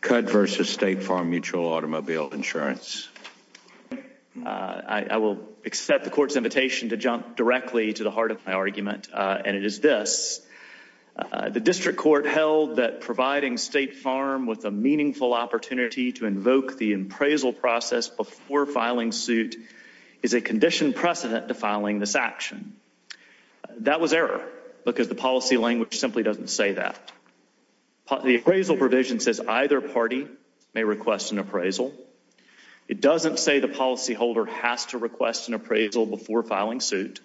Cudd versus State Farm Mutual Automobile Insurance. I will accept the court's invitation to jump directly to the heart of my argument and it is this. The district court held that providing State Farm with a meaningful opportunity to invoke the appraisal process before filing suit is a condition precedent to filing this action. That was error because the policy language simply doesn't say that. The appraisal provision says either party may request an appraisal. It doesn't say the policyholder has to request an appraisal before filing suit.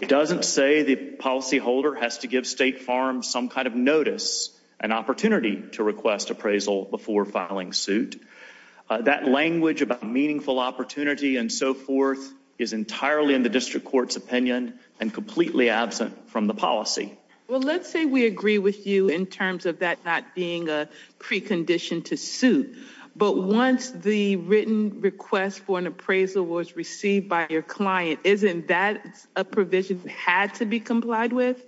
It doesn't say the policyholder has to give State Farm some kind of notice, an opportunity to request appraisal before filing suit. That language about meaningful opportunity and so forth is entirely in the policy. Well let's say we agree with you in terms of that not being a precondition to suit, but once the written request for an appraisal was received by your client, isn't that a provision that had to be complied with?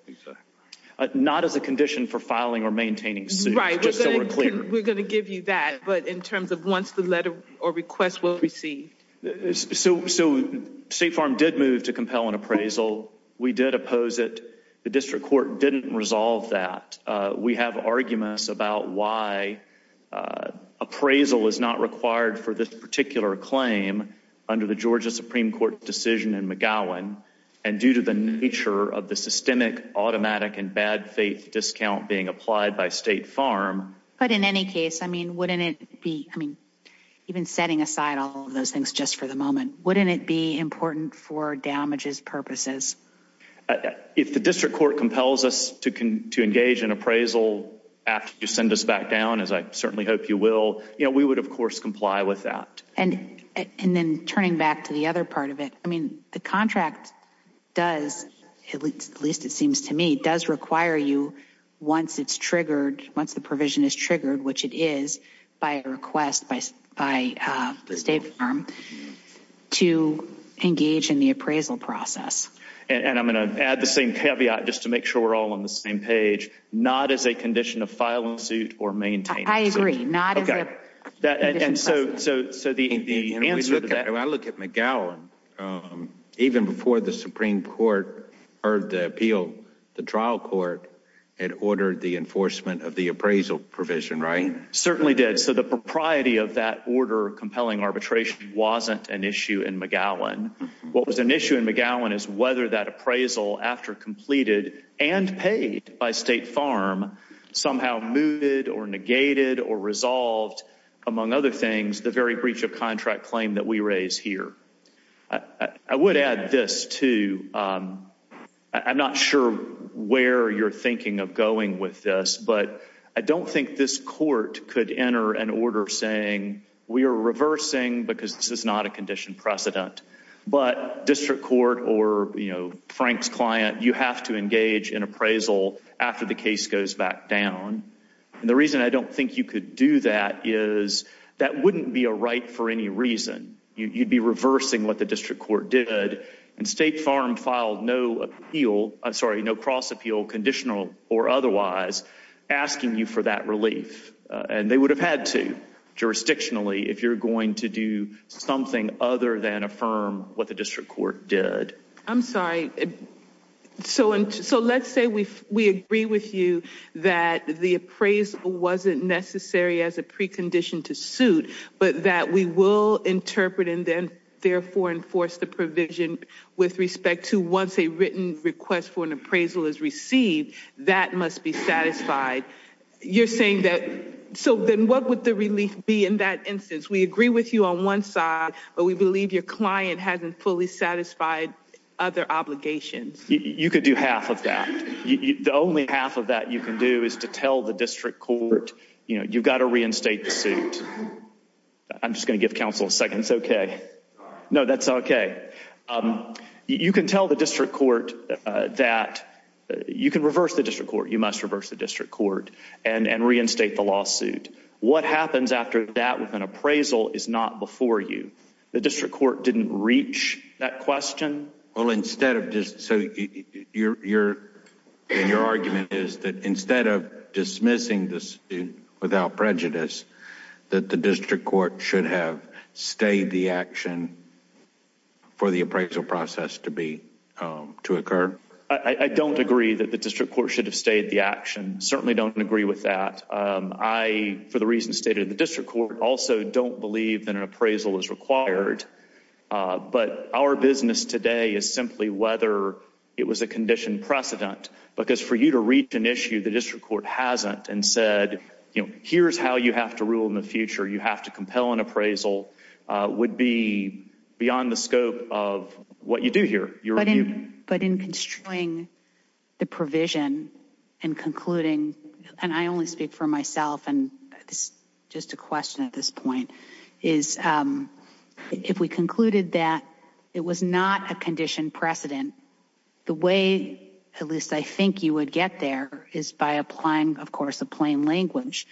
Not as a condition for filing or maintaining suit. Right, we're gonna give you that, but in terms of once the letter or request was received. So State Farm did move to compel an appraisal. We did oppose it. The district court didn't resolve that. We have arguments about why appraisal is not required for this particular claim under the Georgia Supreme Court decision in McGowan and due to the nature of the systemic automatic and bad faith discount being applied by State Farm. But in any case, I mean wouldn't it be, I mean even setting aside all of those things just for the moment, wouldn't it be important for damages purposes? If the district court compels us to engage in appraisal after you send us back down, as I certainly hope you will, you know we would of course comply with that. And then turning back to the other part of it, I mean the contract does, at least it seems to me, does require you once it's State Farm to engage in the appraisal process. And I'm gonna add the same caveat just to make sure we're all on the same page, not as a condition of filing suit or maintaining suit. I agree, not as a condition of filing suit. I look at McGowan, even before the Supreme Court heard the appeal, the trial court had ordered the enforcement of the appraisal provision, right? Certainly did. So the propriety of that order compelling arbitration wasn't an issue in McGowan. What was an issue in McGowan is whether that appraisal, after completed and paid by State Farm, somehow moved or negated or resolved, among other things, the very breach of contract claim that we raise here. I would add this to, I'm not sure where you're thinking of going with this, but I don't think this court could enter an order saying we are reversing because this is not a condition precedent, but district court or, you know, Frank's client, you have to engage in appraisal after the case goes back down. And the reason I don't think you could do that is that wouldn't be a right for any reason. You'd be reversing what the district court did and State Farm filed no appeal, I'm asking you for that relief. And they would have had to, jurisdictionally, if you're going to do something other than affirm what the district court did. I'm sorry, so let's say we agree with you that the appraisal wasn't necessary as a precondition to suit, but that we will interpret and then therefore enforce the provision with respect to once a written request for an satisfied, you're saying that. So then what would the relief be? In that instance, we agree with you on one side, but we believe your client hasn't fully satisfied other obligations. You could do half of that. The only half of that you can do is to tell the district court, you know, you've got to reinstate the suit. I'm just gonna give counsel a second. It's okay. No, that's okay. You can tell the district court that you can reverse the district court. You must reverse the district court and reinstate the lawsuit. What happens after that with an appraisal is not before you. The district court didn't reach that question. Well, instead of just so you're in your argument is that instead of dismissing this without prejudice that the district court should have stayed the action for the appraisal process to be to occur. I certainly don't agree with that. Um, I, for the reason stated, the district court also don't believe that an appraisal is required. But our business today is simply whether it was a conditioned precedent. Because for you to reach an issue, the district court hasn't and said, here's how you have to rule in the future. You have to compel an appraisal would be beyond the scope of what you do here. But in constrain the provision and concluding, and I only speak for myself and just a question at this point is, um, if we concluded that it was not a conditioned precedent, the way, at least I think you would get there is by applying, of course, a plain language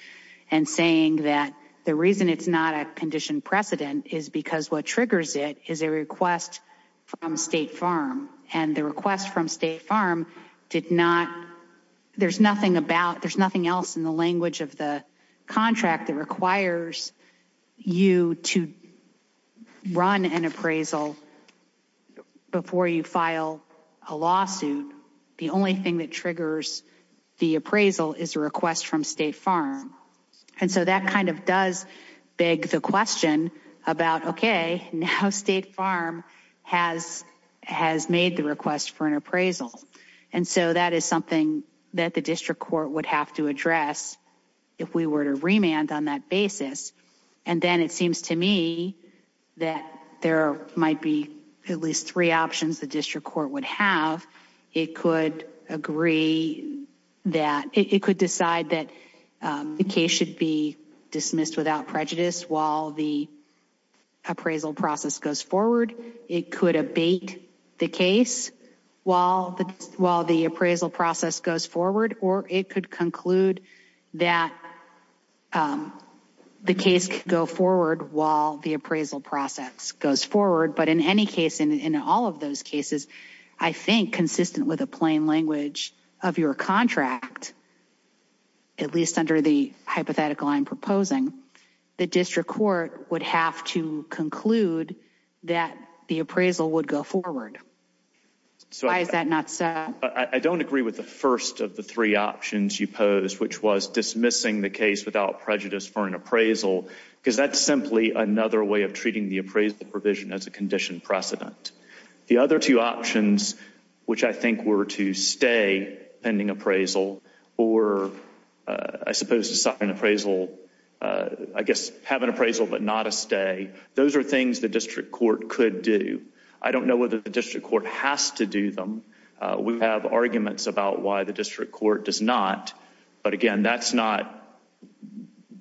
and saying that the reason it's not a conditioned precedent is because what triggers it is a request from State Farm and the request from State Farm did not. There's nothing about there's nothing else in the language of the contract that requires you to run an appraisal before you file a lawsuit. The only thing that triggers the appraisal is a request from State Farm. And so that kind of does beg the question about, okay, now State Farm has has made the request for an appraisal. And so that is something that the district court would have to address if we were to remand on that basis. And then it seems to me that there might be at least three options the district court would have. It could agree that it could decide that the case should be dismissed without prejudice while the appraisal process goes forward. It could abate the case while while the appraisal process goes forward, or it could conclude that, um, the case could go forward while the appraisal process goes forward. But in any case, in all of those cases, I think, consistent with a plain language of your contract, at least under the hypothetical I'm proposing, the district court would have to conclude that the appraisal would go forward. So why is that not so? I don't agree with the first of the three options you pose, which was dismissing the case without prejudice for an appraisal, because that's another way of treating the appraisal provision as a condition precedent. The other two options, which I think were to stay pending appraisal, or I suppose to sign an appraisal, I guess, have an appraisal but not a stay. Those are things the district court could do. I don't know whether the district court has to do them. We have arguments about why the district court does not. But again, that's not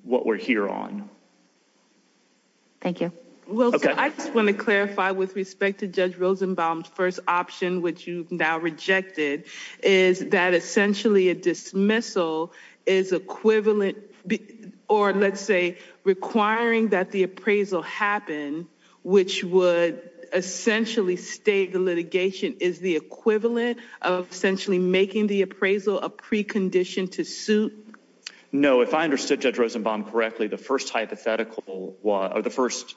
what we're here on. Thank you. Well, I just want to clarify with respect to Judge Rosenbaum's first option, which you now rejected, is that essentially a dismissal is equivalent or let's say requiring that the appraisal happen, which would essentially state the litigation is the equivalent of essentially making the appraisal a precondition to suit. No, if I understood Judge Rosenbaum correctly, the first hypothetical or the first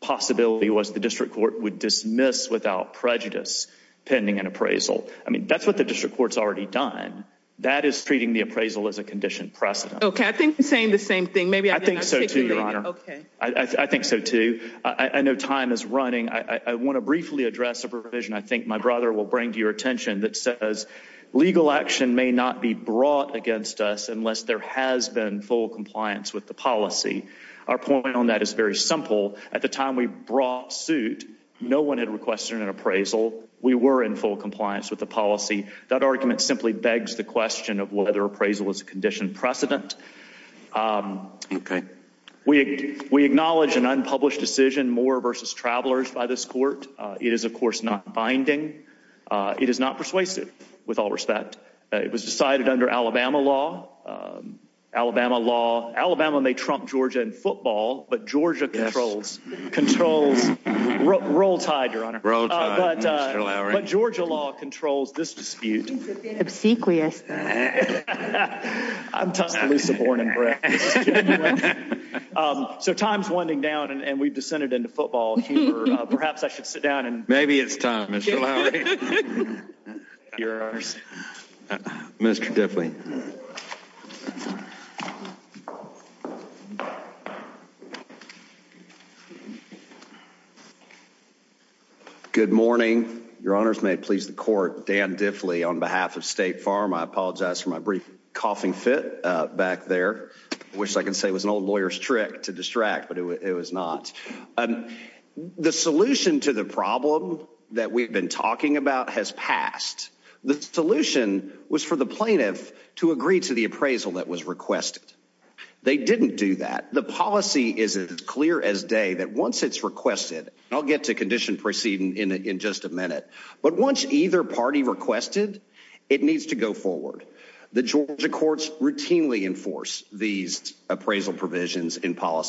possibility was the district court would dismiss without prejudice pending an appraisal. I mean, that's what the district court's already done. That is treating the appraisal as a conditioned precedent. Okay, I think you're saying the same thing. Maybe I think so, too, Your Honor. I think so, too. I know time is running. I want to briefly address a provision I think my brother will bring to your attention that says legal action may not be brought against us unless there has been full compliance with the policy. Our point on that is very simple. At the time we brought suit, no one had requested an appraisal. We were in full compliance with the policy. That argument simply begs the question of whether appraisal is a conditioned precedent. Um, okay, we we acknowledge an unpublished decision more versus travelers by this court. It is, of course, not binding. It is not persuasive with all respect. It was cited under Alabama law. Um, Alabama law. Alabama may trump Georgia in football, but Georgia controls controls. Roll tide, Your Honor. But, uh, Georgia law controls this dispute. Obsequious. Yeah, I'm talking to Lisa Bourne and Brett. Um, so time's winding down and we've dissented into football. Perhaps I should sit down and maybe it's time, Mr. All right. You're ours, Mr Diffley. Good morning, Your Honor's may please the court. Dan Diffley on behalf of State Farm. I apologize for my brief coughing fit back there. Wish I could say was an old lawyer's trick to distract, but it was not the solution to the problem that we've been talking about has passed. The solution was for the plaintiff to agree to the appraisal that was requested. They didn't do that. The policy is as clear as day that once it's requested, I'll get to condition proceeding in in just a minute. But once either party requested, it needs to go forward. The Georgia courts routinely enforce these appraisal provisions in sure.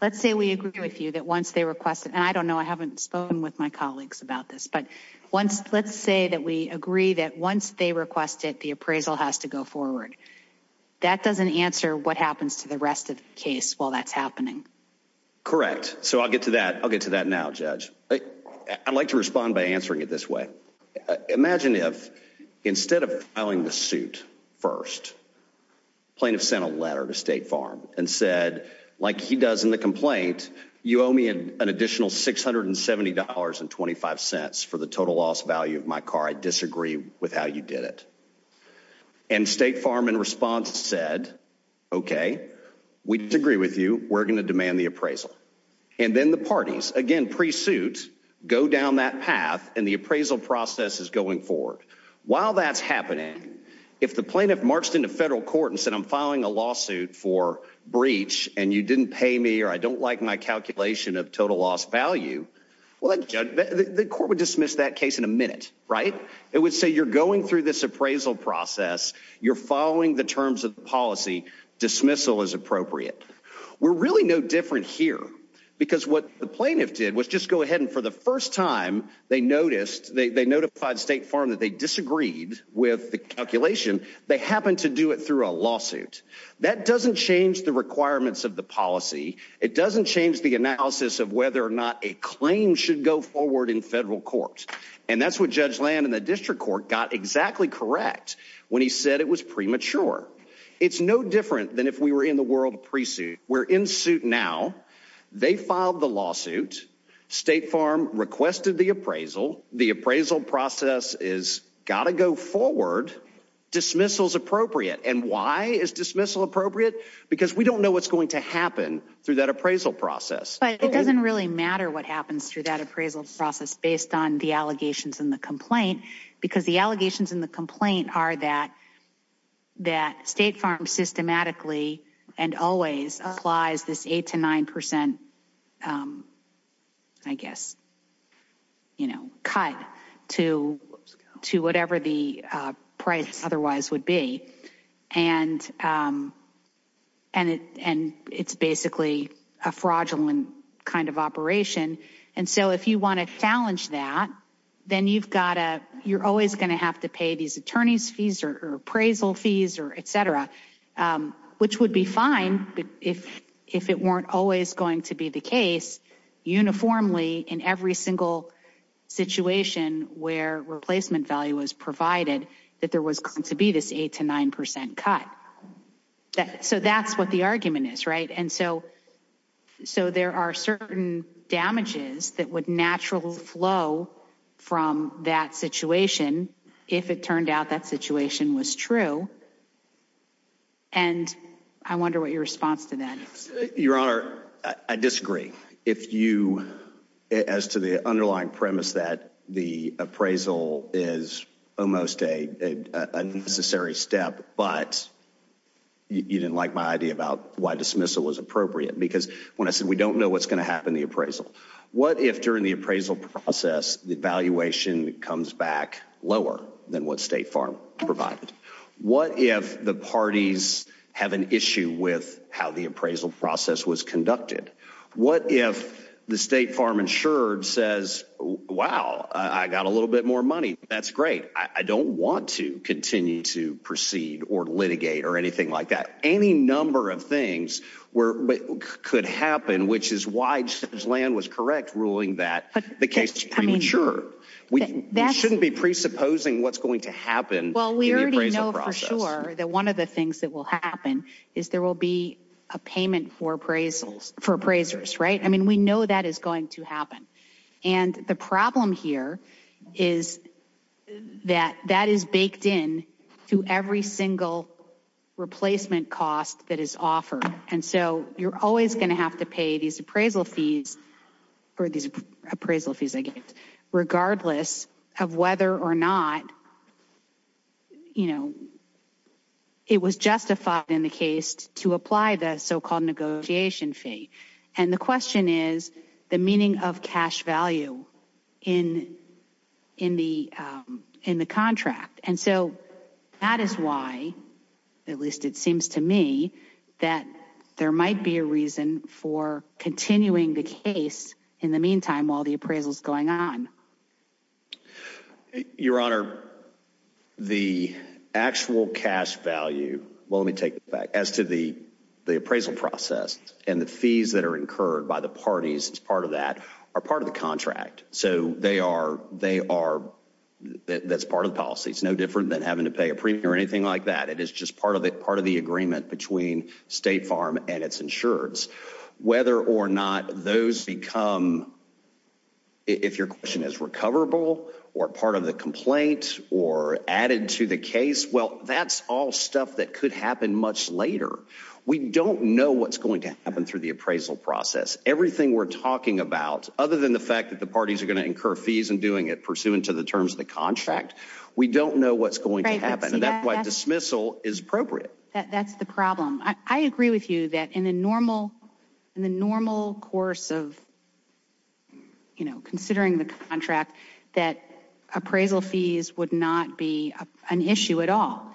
Let's say we agree with you that once they requested, and I don't know, I haven't spoken with my colleagues about this, but once let's say that we agree that once they requested the appraisal has to go forward, that doesn't answer what happens to the rest of the case while that's happening. Correct. So I'll get to that. I'll get to that now, Judge. I'd like to respond by answering it this way. Imagine if instead of filing the suit first, plaintiff sent a letter to State Farm and said, like he does in the complaint, you owe me an additional $670.25 for the total loss value of my car. I disagree with how you did it. And State Farm in response said, Okay, we agree with you. We're going to demand the appraisal and then the parties again. Pre suit. Go down that path, and the appraisal process is going forward. While that's happening, if the federal court and said I'm filing a lawsuit for breach and you didn't pay me or I don't like my calculation of total loss value, well, the court would dismiss that case in a minute, right? It would say you're going through this appraisal process. You're following the terms of policy. Dismissal is appropriate. We're really no different here because what the plaintiff did was just go ahead and for the first time they noticed they notified State Farm that they disagreed with the calculation. They happened to do it through a lawsuit. That doesn't change the requirements of the policy. It doesn't change the analysis of whether or not a claim should go forward in federal court. And that's what Judge Land in the district court got exactly correct when he said it was premature. It's no different than if we were in the world pre suit. We're in suit now. They filed the lawsuit. State Farm requested the appraisal. The appraisal process is gotta go forward. Dismissal is appropriate. And why is dismissal appropriate? Because we don't know what's going to happen through that appraisal process. It doesn't really matter what happens through that appraisal process based on the allegations in the complaint, because the allegations in the complaint are that that State Farm systematically and always applies this 8 to 9%. Um, I guess, you know, cut to to whatever the price otherwise would be. And, um, and and it's basically a fraudulent kind of operation. And so if you want to challenge that, then you've got a you're always going to have to pay these attorneys fees or appraisal fees or etc. Um, which would be fine if if weren't always going to be the case uniformly in every single situation where replacement value was provided that there was going to be this 8 to 9% cut. So that's what the argument is, right? And so so there are certain damages that would naturally flow from that situation if it turned out that situation was true. And I wonder what your response to that. Your Honor, I disagree. If you as to the underlying premise that the appraisal is almost a unnecessary step, but you didn't like my idea about why dismissal was appropriate. Because when I said we don't know what's going to happen, the appraisal, what if during the appraisal process, the valuation comes back lower than what State Farm provided? What if the parties have an issue with how the appraisal process was conducted? What if the State Farm insured says, Wow, I got a little bit more money. That's great. I don't want to continue to proceed or litigate or anything like that. Any number of things were could happen, which is why land was correct, ruling that the case premature. We shouldn't be presupposing what's going to happen. Well, we already know for sure that one of the things that will happen is there will be a payment for appraisals for appraisers, right? I mean, we know that is going to happen. And the problem here is that that is baked in to every single replacement cost that is offered. And so you're always going to have to pay these appraisal fees for these appraisal fees, regardless of whether or not, you know, it was justified in the case to apply the so called negotiation fee. And the question is the meaning of cash value in in the in the contract. And so that is why, at least it seems to me that there might be a reason for continuing the case. In the meantime, while the appraisals going on, Your Honor, the actual cash value. Well, let me take back as to the appraisal process and the fees that are incurred by the parties. It's part of that are part of the contract. So they are. They are. That's part of policy. It's no like that. It is just part of it. Part of the agreement between State Farm and its insurance, whether or not those become if your question is recoverable or part of the complaint or added to the case. Well, that's all stuff that could happen much later. We don't know what's going to happen through the appraisal process. Everything we're talking about, other than the fact that the parties are going to incur fees and doing it pursuant to the terms of the contract. We don't know what's going to happen. That's why dismissal is appropriate. That's the problem. I agree with you that in the normal in the normal course of, you know, considering the contract that appraisal fees would not be an issue at all.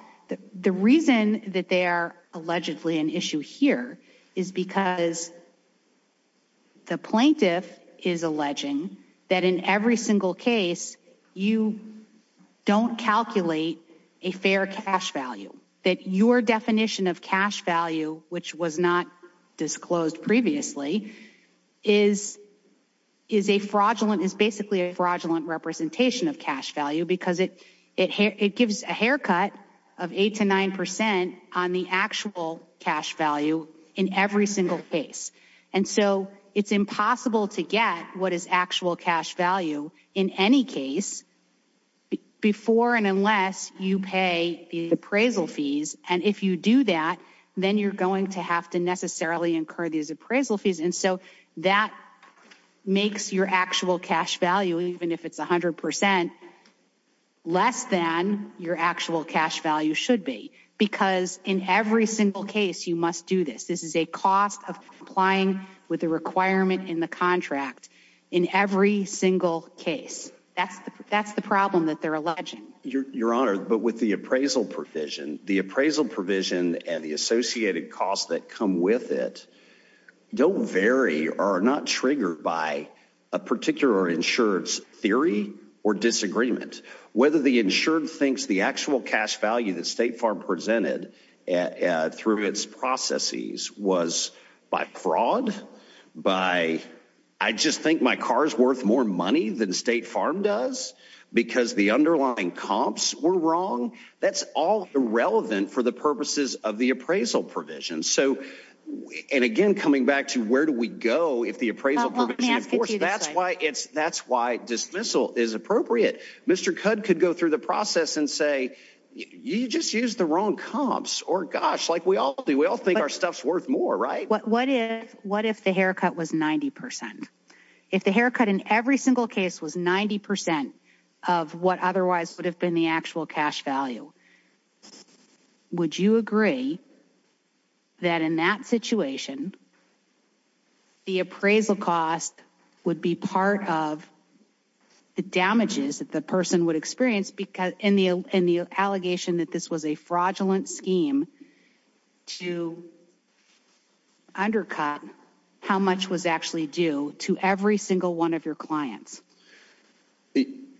The reason that they are allegedly an issue here is because the plaintiff is alleging that in every single case you don't calculate a fair cash value that your definition of cash value, which was not disclosed previously, is is a fraudulent is basically a fraudulent representation of cash value because it it it gives a haircut of 8 to 9% on the actual cash value in every single case. And so it's impossible to get what is actual cash value in any case before and unless you pay the appraisal fees. And if you do that, then you're going to have to necessarily incur these appraisal fees. And so that makes your actual cash value, even if it's 100% less than your actual cash value should be. Because in every single case you must do this. This case. That's that's the problem that they're alleging your honor. But with the appraisal provision, the appraisal provision and the associated costs that come with it don't vary or not triggered by a particular insurance theory or disagreement. Whether the insured thinks the actual cash value that State Farm presented through its processes was by fraud by I just think my car's worth more money than State Farm does because the underlying comps were wrong. That's all irrelevant for the purposes of the appraisal provision. So and again, coming back to where do we go if the appraisal? That's why it's that's why dismissal is appropriate. Mr. Cud could go through the process and say you just use the wrong comps or gosh like we all do. We all think our stuff's worth more, right? What if what if the haircut was 90%? If the haircut in every single case was 90% of what otherwise would have been the actual cash value, would you agree that in that situation the appraisal cost would be part of the damages that the person would experience because in the in the allegation that this was a fraudulent scheme to undercut how much was actually due to every single one of your clients.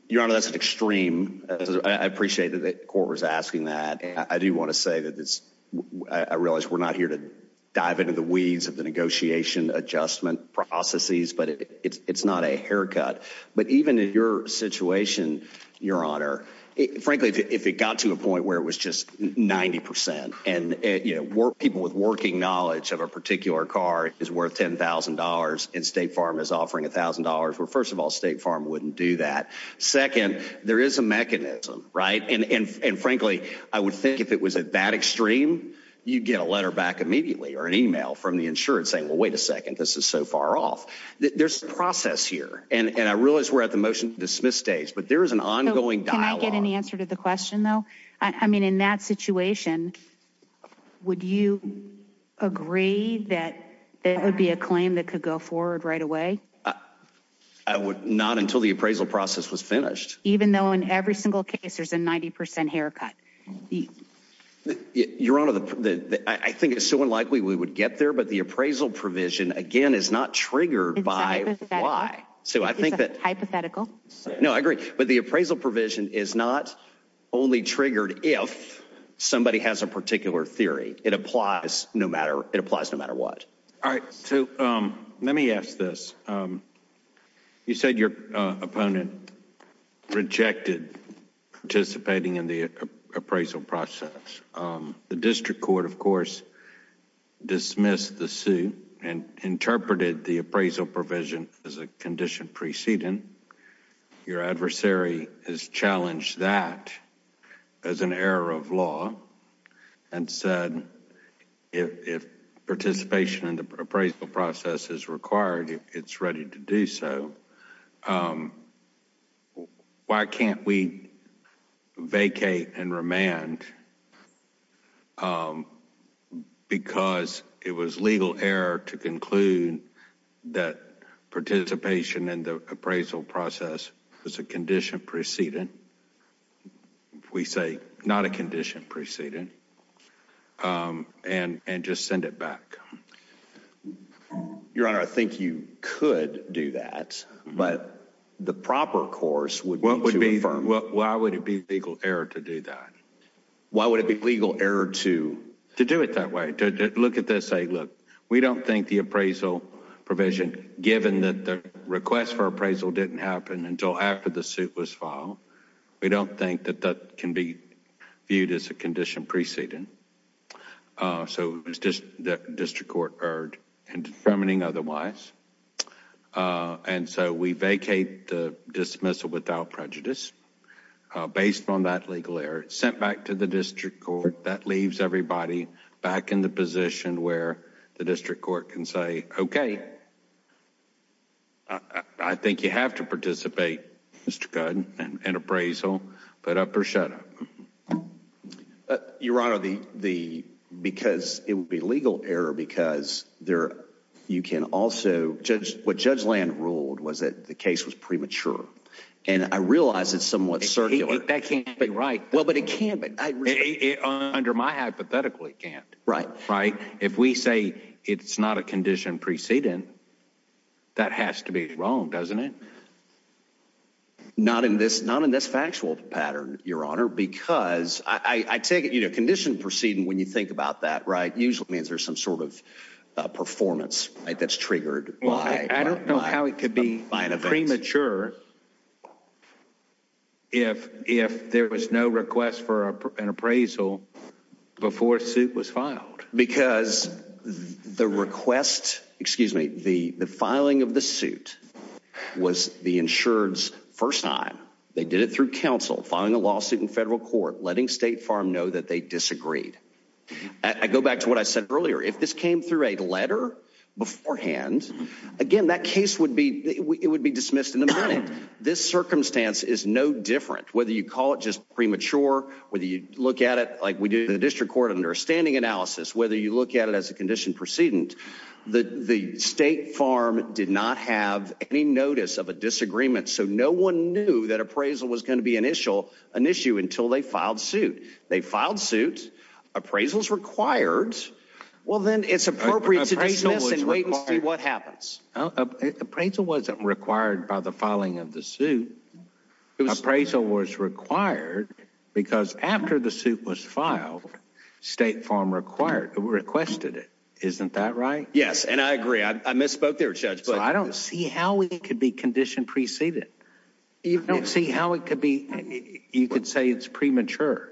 Your Honor, that's an extreme. I appreciate that the court was asking that. I do want to say that this I realize we're not here to dive into the weeds of the negotiation adjustment processes, but it's not a haircut. But frankly, if it got to a point where it was just 90% and you know, work people with working knowledge of a particular car is worth $10,000 in State Farm is offering $1,000. Well, first of all, State Farm wouldn't do that. Second, there is a mechanism, right? And and and frankly, I would think if it was at that extreme, you get a letter back immediately or an email from the insurance saying, Well, wait a second. This is so far off. There's a process here, and I realize we're at the motion to dismiss stage, but there is an ongoing dialogue. Can I get an answer to the question, though? I mean, in that situation, would you agree that it would be a claim that could go forward right away? I would not until the appraisal process was finished, even though in every single case, there's a 90% haircut. Your Honor, I think it's so unlikely we would get there, but the appraisal provision again is not triggered by why. So I think that hypothetical. No, I agree. But the appraisal provision is not only triggered if somebody has a particular theory. It applies no matter. It applies no matter what. All right. So, um, let me ask this. Um, you said your opponent rejected participating in the appraisal process. Um, the district court, of course, dismissed the suit and interpreted the appraisal provision as a condition preceding your adversary has challenged that as an error of law and said, if participation in the appraisal process is required, it's ready to do so. Um, why can't we vacate and remand? Um, because it was legal error to conclude that condition preceding we say not a condition preceding. Um, and and just send it back. Your Honor, I think you could do that. But the proper course would what would be firm? Why would it be legal error to do that? Why would it be legal error to do it that way? Look at this. Say, Look, we don't think the appraisal provision, given that the request for appraisal didn't happen until after the suit was filed. We don't think that that can be viewed as a condition preceding. Uh, so it's just the district court heard and determining otherwise. Uh, and so we vacate the dismissal without prejudice based on that legal error sent back to the district court. That leaves everybody back in the position where the district court can say, Okay, I think you have to participate, Mr Gunn and appraisal. But up or shut your honor the because it would be legal error because there you can also judge what Judge Land ruled was that the case was premature. And I realize it's somewhat circular. That can't be right. Well, but it can't be under my hypothetically can't right, right? If we say it's not a condition preceding, that has to be wrong, doesn't it? Not in this, not in this factual pattern, your honor, because I take it, you know, condition proceeding. When you think about that, right, usually means there's some sort of performance that's triggered. I don't know how it could be by premature. Sure. If if there was no request for an appraisal before suit was filed because the request, excuse me, the filing of the suit was the insured's first time they did it through council filing a lawsuit in federal court, letting State Farm know that they disagreed. I go back to what I said earlier. If this came through a letter beforehand again, that case would be it would be dismissed in this circumstance is no different. Whether you call it just premature, whether you look at it like we do in the district court understanding analysis, whether you look at it as a condition proceeding, the state farm did not have any notice of a disagreement. So no one knew that appraisal was going to be initial an issue until they filed suit. They filed suit appraisals required. Well, then it's appropriate to wait and see what filing of the suit appraisal was required because after the suit was filed, State Farm required requested it. Isn't that right? Yes. And I agree. I misspoke there, Judge, but I don't see how we could be conditioned preceded. You don't see how it could be. You could say it's premature.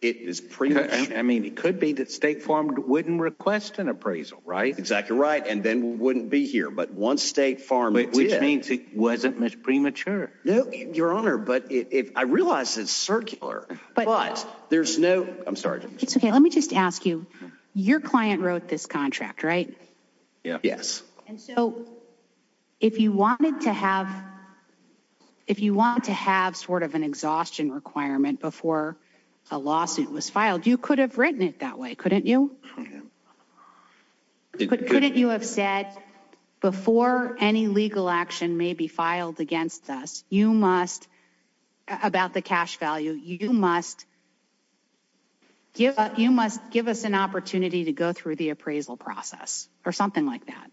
It is pretty. I mean, it could be that State Farm wouldn't request an appraisal, right? Exactly right. And then we wouldn't be here. But once State Farm, which means it wasn't premature. No, Your Honor, but I realize it's circular, but there's no. I'm sorry. It's okay. Let me just ask you. Your client wrote this contract, right? Yes. And so if you wanted to have, if you want to have sort of an exhaustion requirement before a lawsuit was filed, you could have written it that way. Couldn't you? Yeah. But couldn't you have said before any legal action may be filed against us? You must about the cash value. You must give you must give us an opportunity to go through the appraisal process or something like that.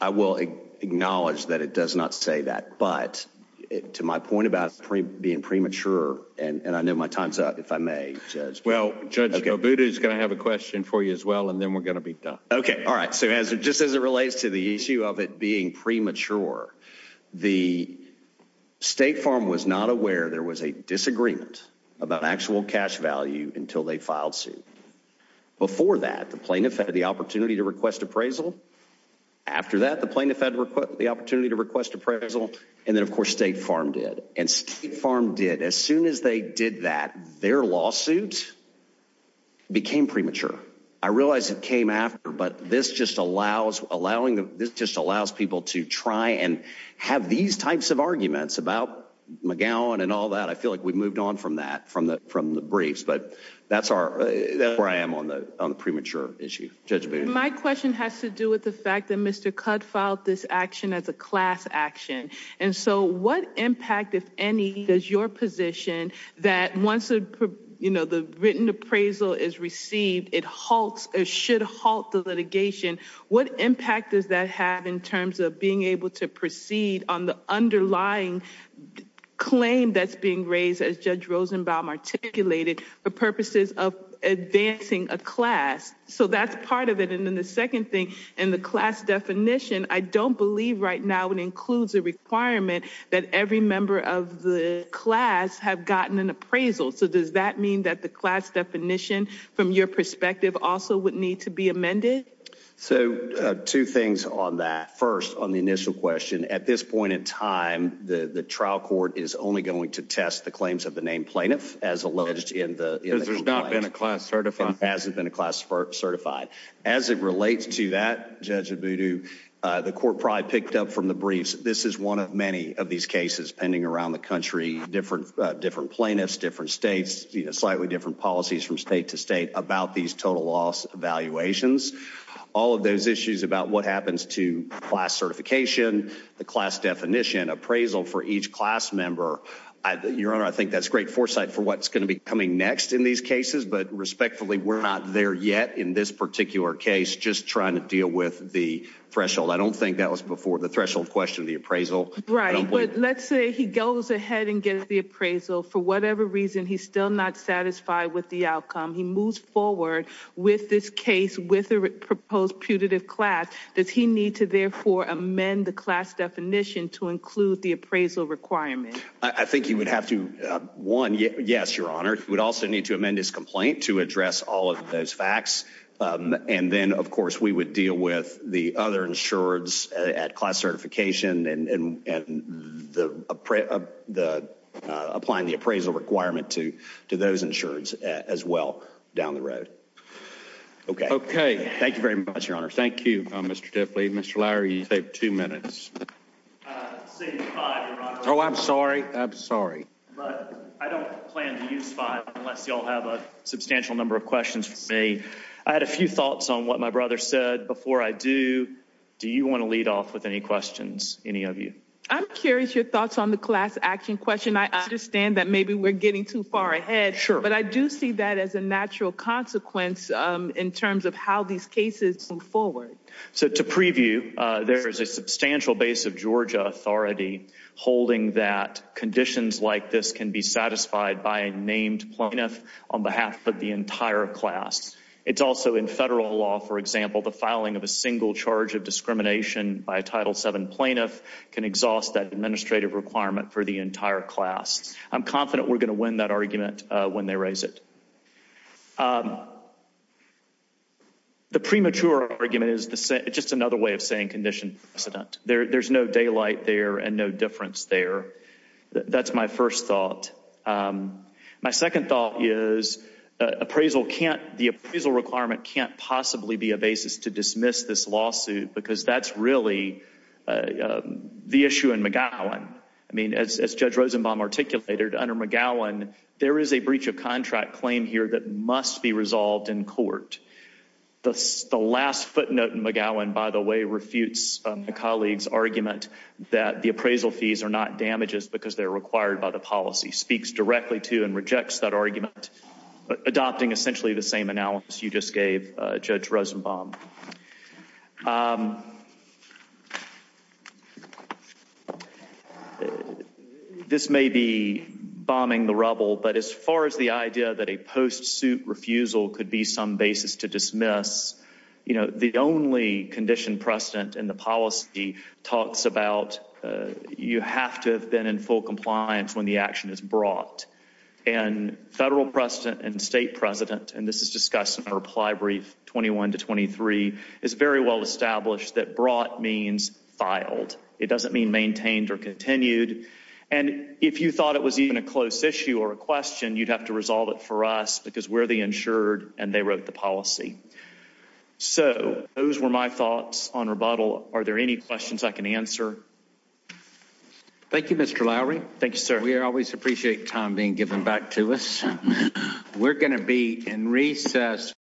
I will acknowledge that it does not say that. But to my point about being premature and I know my time's up if I may. Well, Judge Buddha is gonna have a question for you as well. And then we're gonna be done. Okay. All right. So as it just as it relates to the issue of it being premature, the State Farm was not aware there was a disagreement about actual cash value until they filed suit. Before that, the plaintiff had the opportunity to request appraisal. After that, the plaintiff had the opportunity to request appraisal. And then, of course, State Farm did. And State Farm did. As soon as they did that, their lawsuits became premature. I realized it came after. But this just allows allowing this just allows people to try and have these types of arguments about McGowan and all that. I feel like we've moved on from that from the from the briefs. But that's our where I am on the on the premature issue. Judge, my question has to do with the fact that Mr Cut filed this action as a class action. And so what impact, if any, does your position that once, you know, the written appraisal is received, it halts or should halt the litigation? What impact does that have in terms of being able to proceed on the underlying claim that's being raised as Judge Rosenbaum articulated for purposes of advancing a class? So that's part of it. And then the second thing in the class definition, I don't believe right now it includes a requirement that every member of the class have gotten an appraisal. So does that mean that the class definition from your perspective also would need to be amended? So two things on that first on the initial question. At this point in time, the trial court is only going to test the claims of the name plaintiff as alleged in the there's not been a class certified hasn't been a class for certified. As it relates to that, Judge Abudu, the court probably picked up from the briefs. This is one of many of these cases pending around the country, different, different plaintiffs, different states, slightly different policies from state to state about these total loss evaluations. All of those issues about what happens to class certification, the class definition appraisal for each class member. Your Honor, I think that's great foresight for what's going to be coming next in these cases. But respectfully, we're not there yet in this particular case, just trying to deal with the threshold. I don't think that was before the threshold question of the appraisal. Right, but let's say he goes ahead and gets the appraisal for whatever reason he's still not satisfied with the outcome. He moves forward with this case with a proposed putative class. Does he need to therefore amend the class definition to include the appraisal requirement? I think he would have to. One, yes, Your Honor. He would also need to amend his complaint to address all of those facts. And then, of course, we would deal with the other insureds at class certification and applying the appraisal requirement to those insureds as well down the road. Okay. Okay. Thank you very much, Your Honor. Thank you, Mr. Diffley. Mr. Lauer, you saved two minutes. Oh, I'm sorry. I'm I had a few thoughts on what my brother said before I do. Do you want to lead off with any questions? Any of you? I'm curious your thoughts on the class action question. I understand that maybe we're getting too far ahead, but I do see that as a natural consequence in terms of how these cases forward. So to preview, there is a substantial base of Georgia authority holding that conditions like this can be satisfied by a named plaintiff on behalf of the class. It's also in federal law. For example, the filing of a single charge of discrimination by a Title seven plaintiff can exhaust that administrative requirement for the entire class. I'm confident we're gonna win that argument when they raise it. Um, the premature argument is just another way of saying condition. There's no daylight there and no difference there. That's my first thought. Um, my second thought is appraisal. Can't the appraisal requirement can't possibly be a basis to dismiss this lawsuit because that's really, uh, the issue in McGowan. I mean, as Judge Rosenbaum articulated under McGowan, there is a breach of contract claim here that must be resolved in court. The last footnote in McGowan, by the way, refutes colleagues argument that the appraisal fees are not damages because they're required by the policy speaks directly to and rejects that argument, adopting essentially the same analysis you just gave Judge Rosenbaum. Um, this may be bombing the rubble, but as far as the idea that a post suit refusal could be some basis to dismiss, you know, the only condition precedent in the policy talks about. You have to have been in full compliance when the action is brought and federal precedent and state president. And this is discussed in a reply brief. 21 to 23 is very well established that brought means filed. It doesn't mean maintained or continued. And if you thought it was even a close issue or a question, you'd have to resolve it for us because where they insured and they wrote the policy. So those were my thoughts on rebuttal. Are there any questions I can answer? Thank you, Mr Lowry. Thank you, sir. We always appreciate time being given back to us. We're gonna be in recess.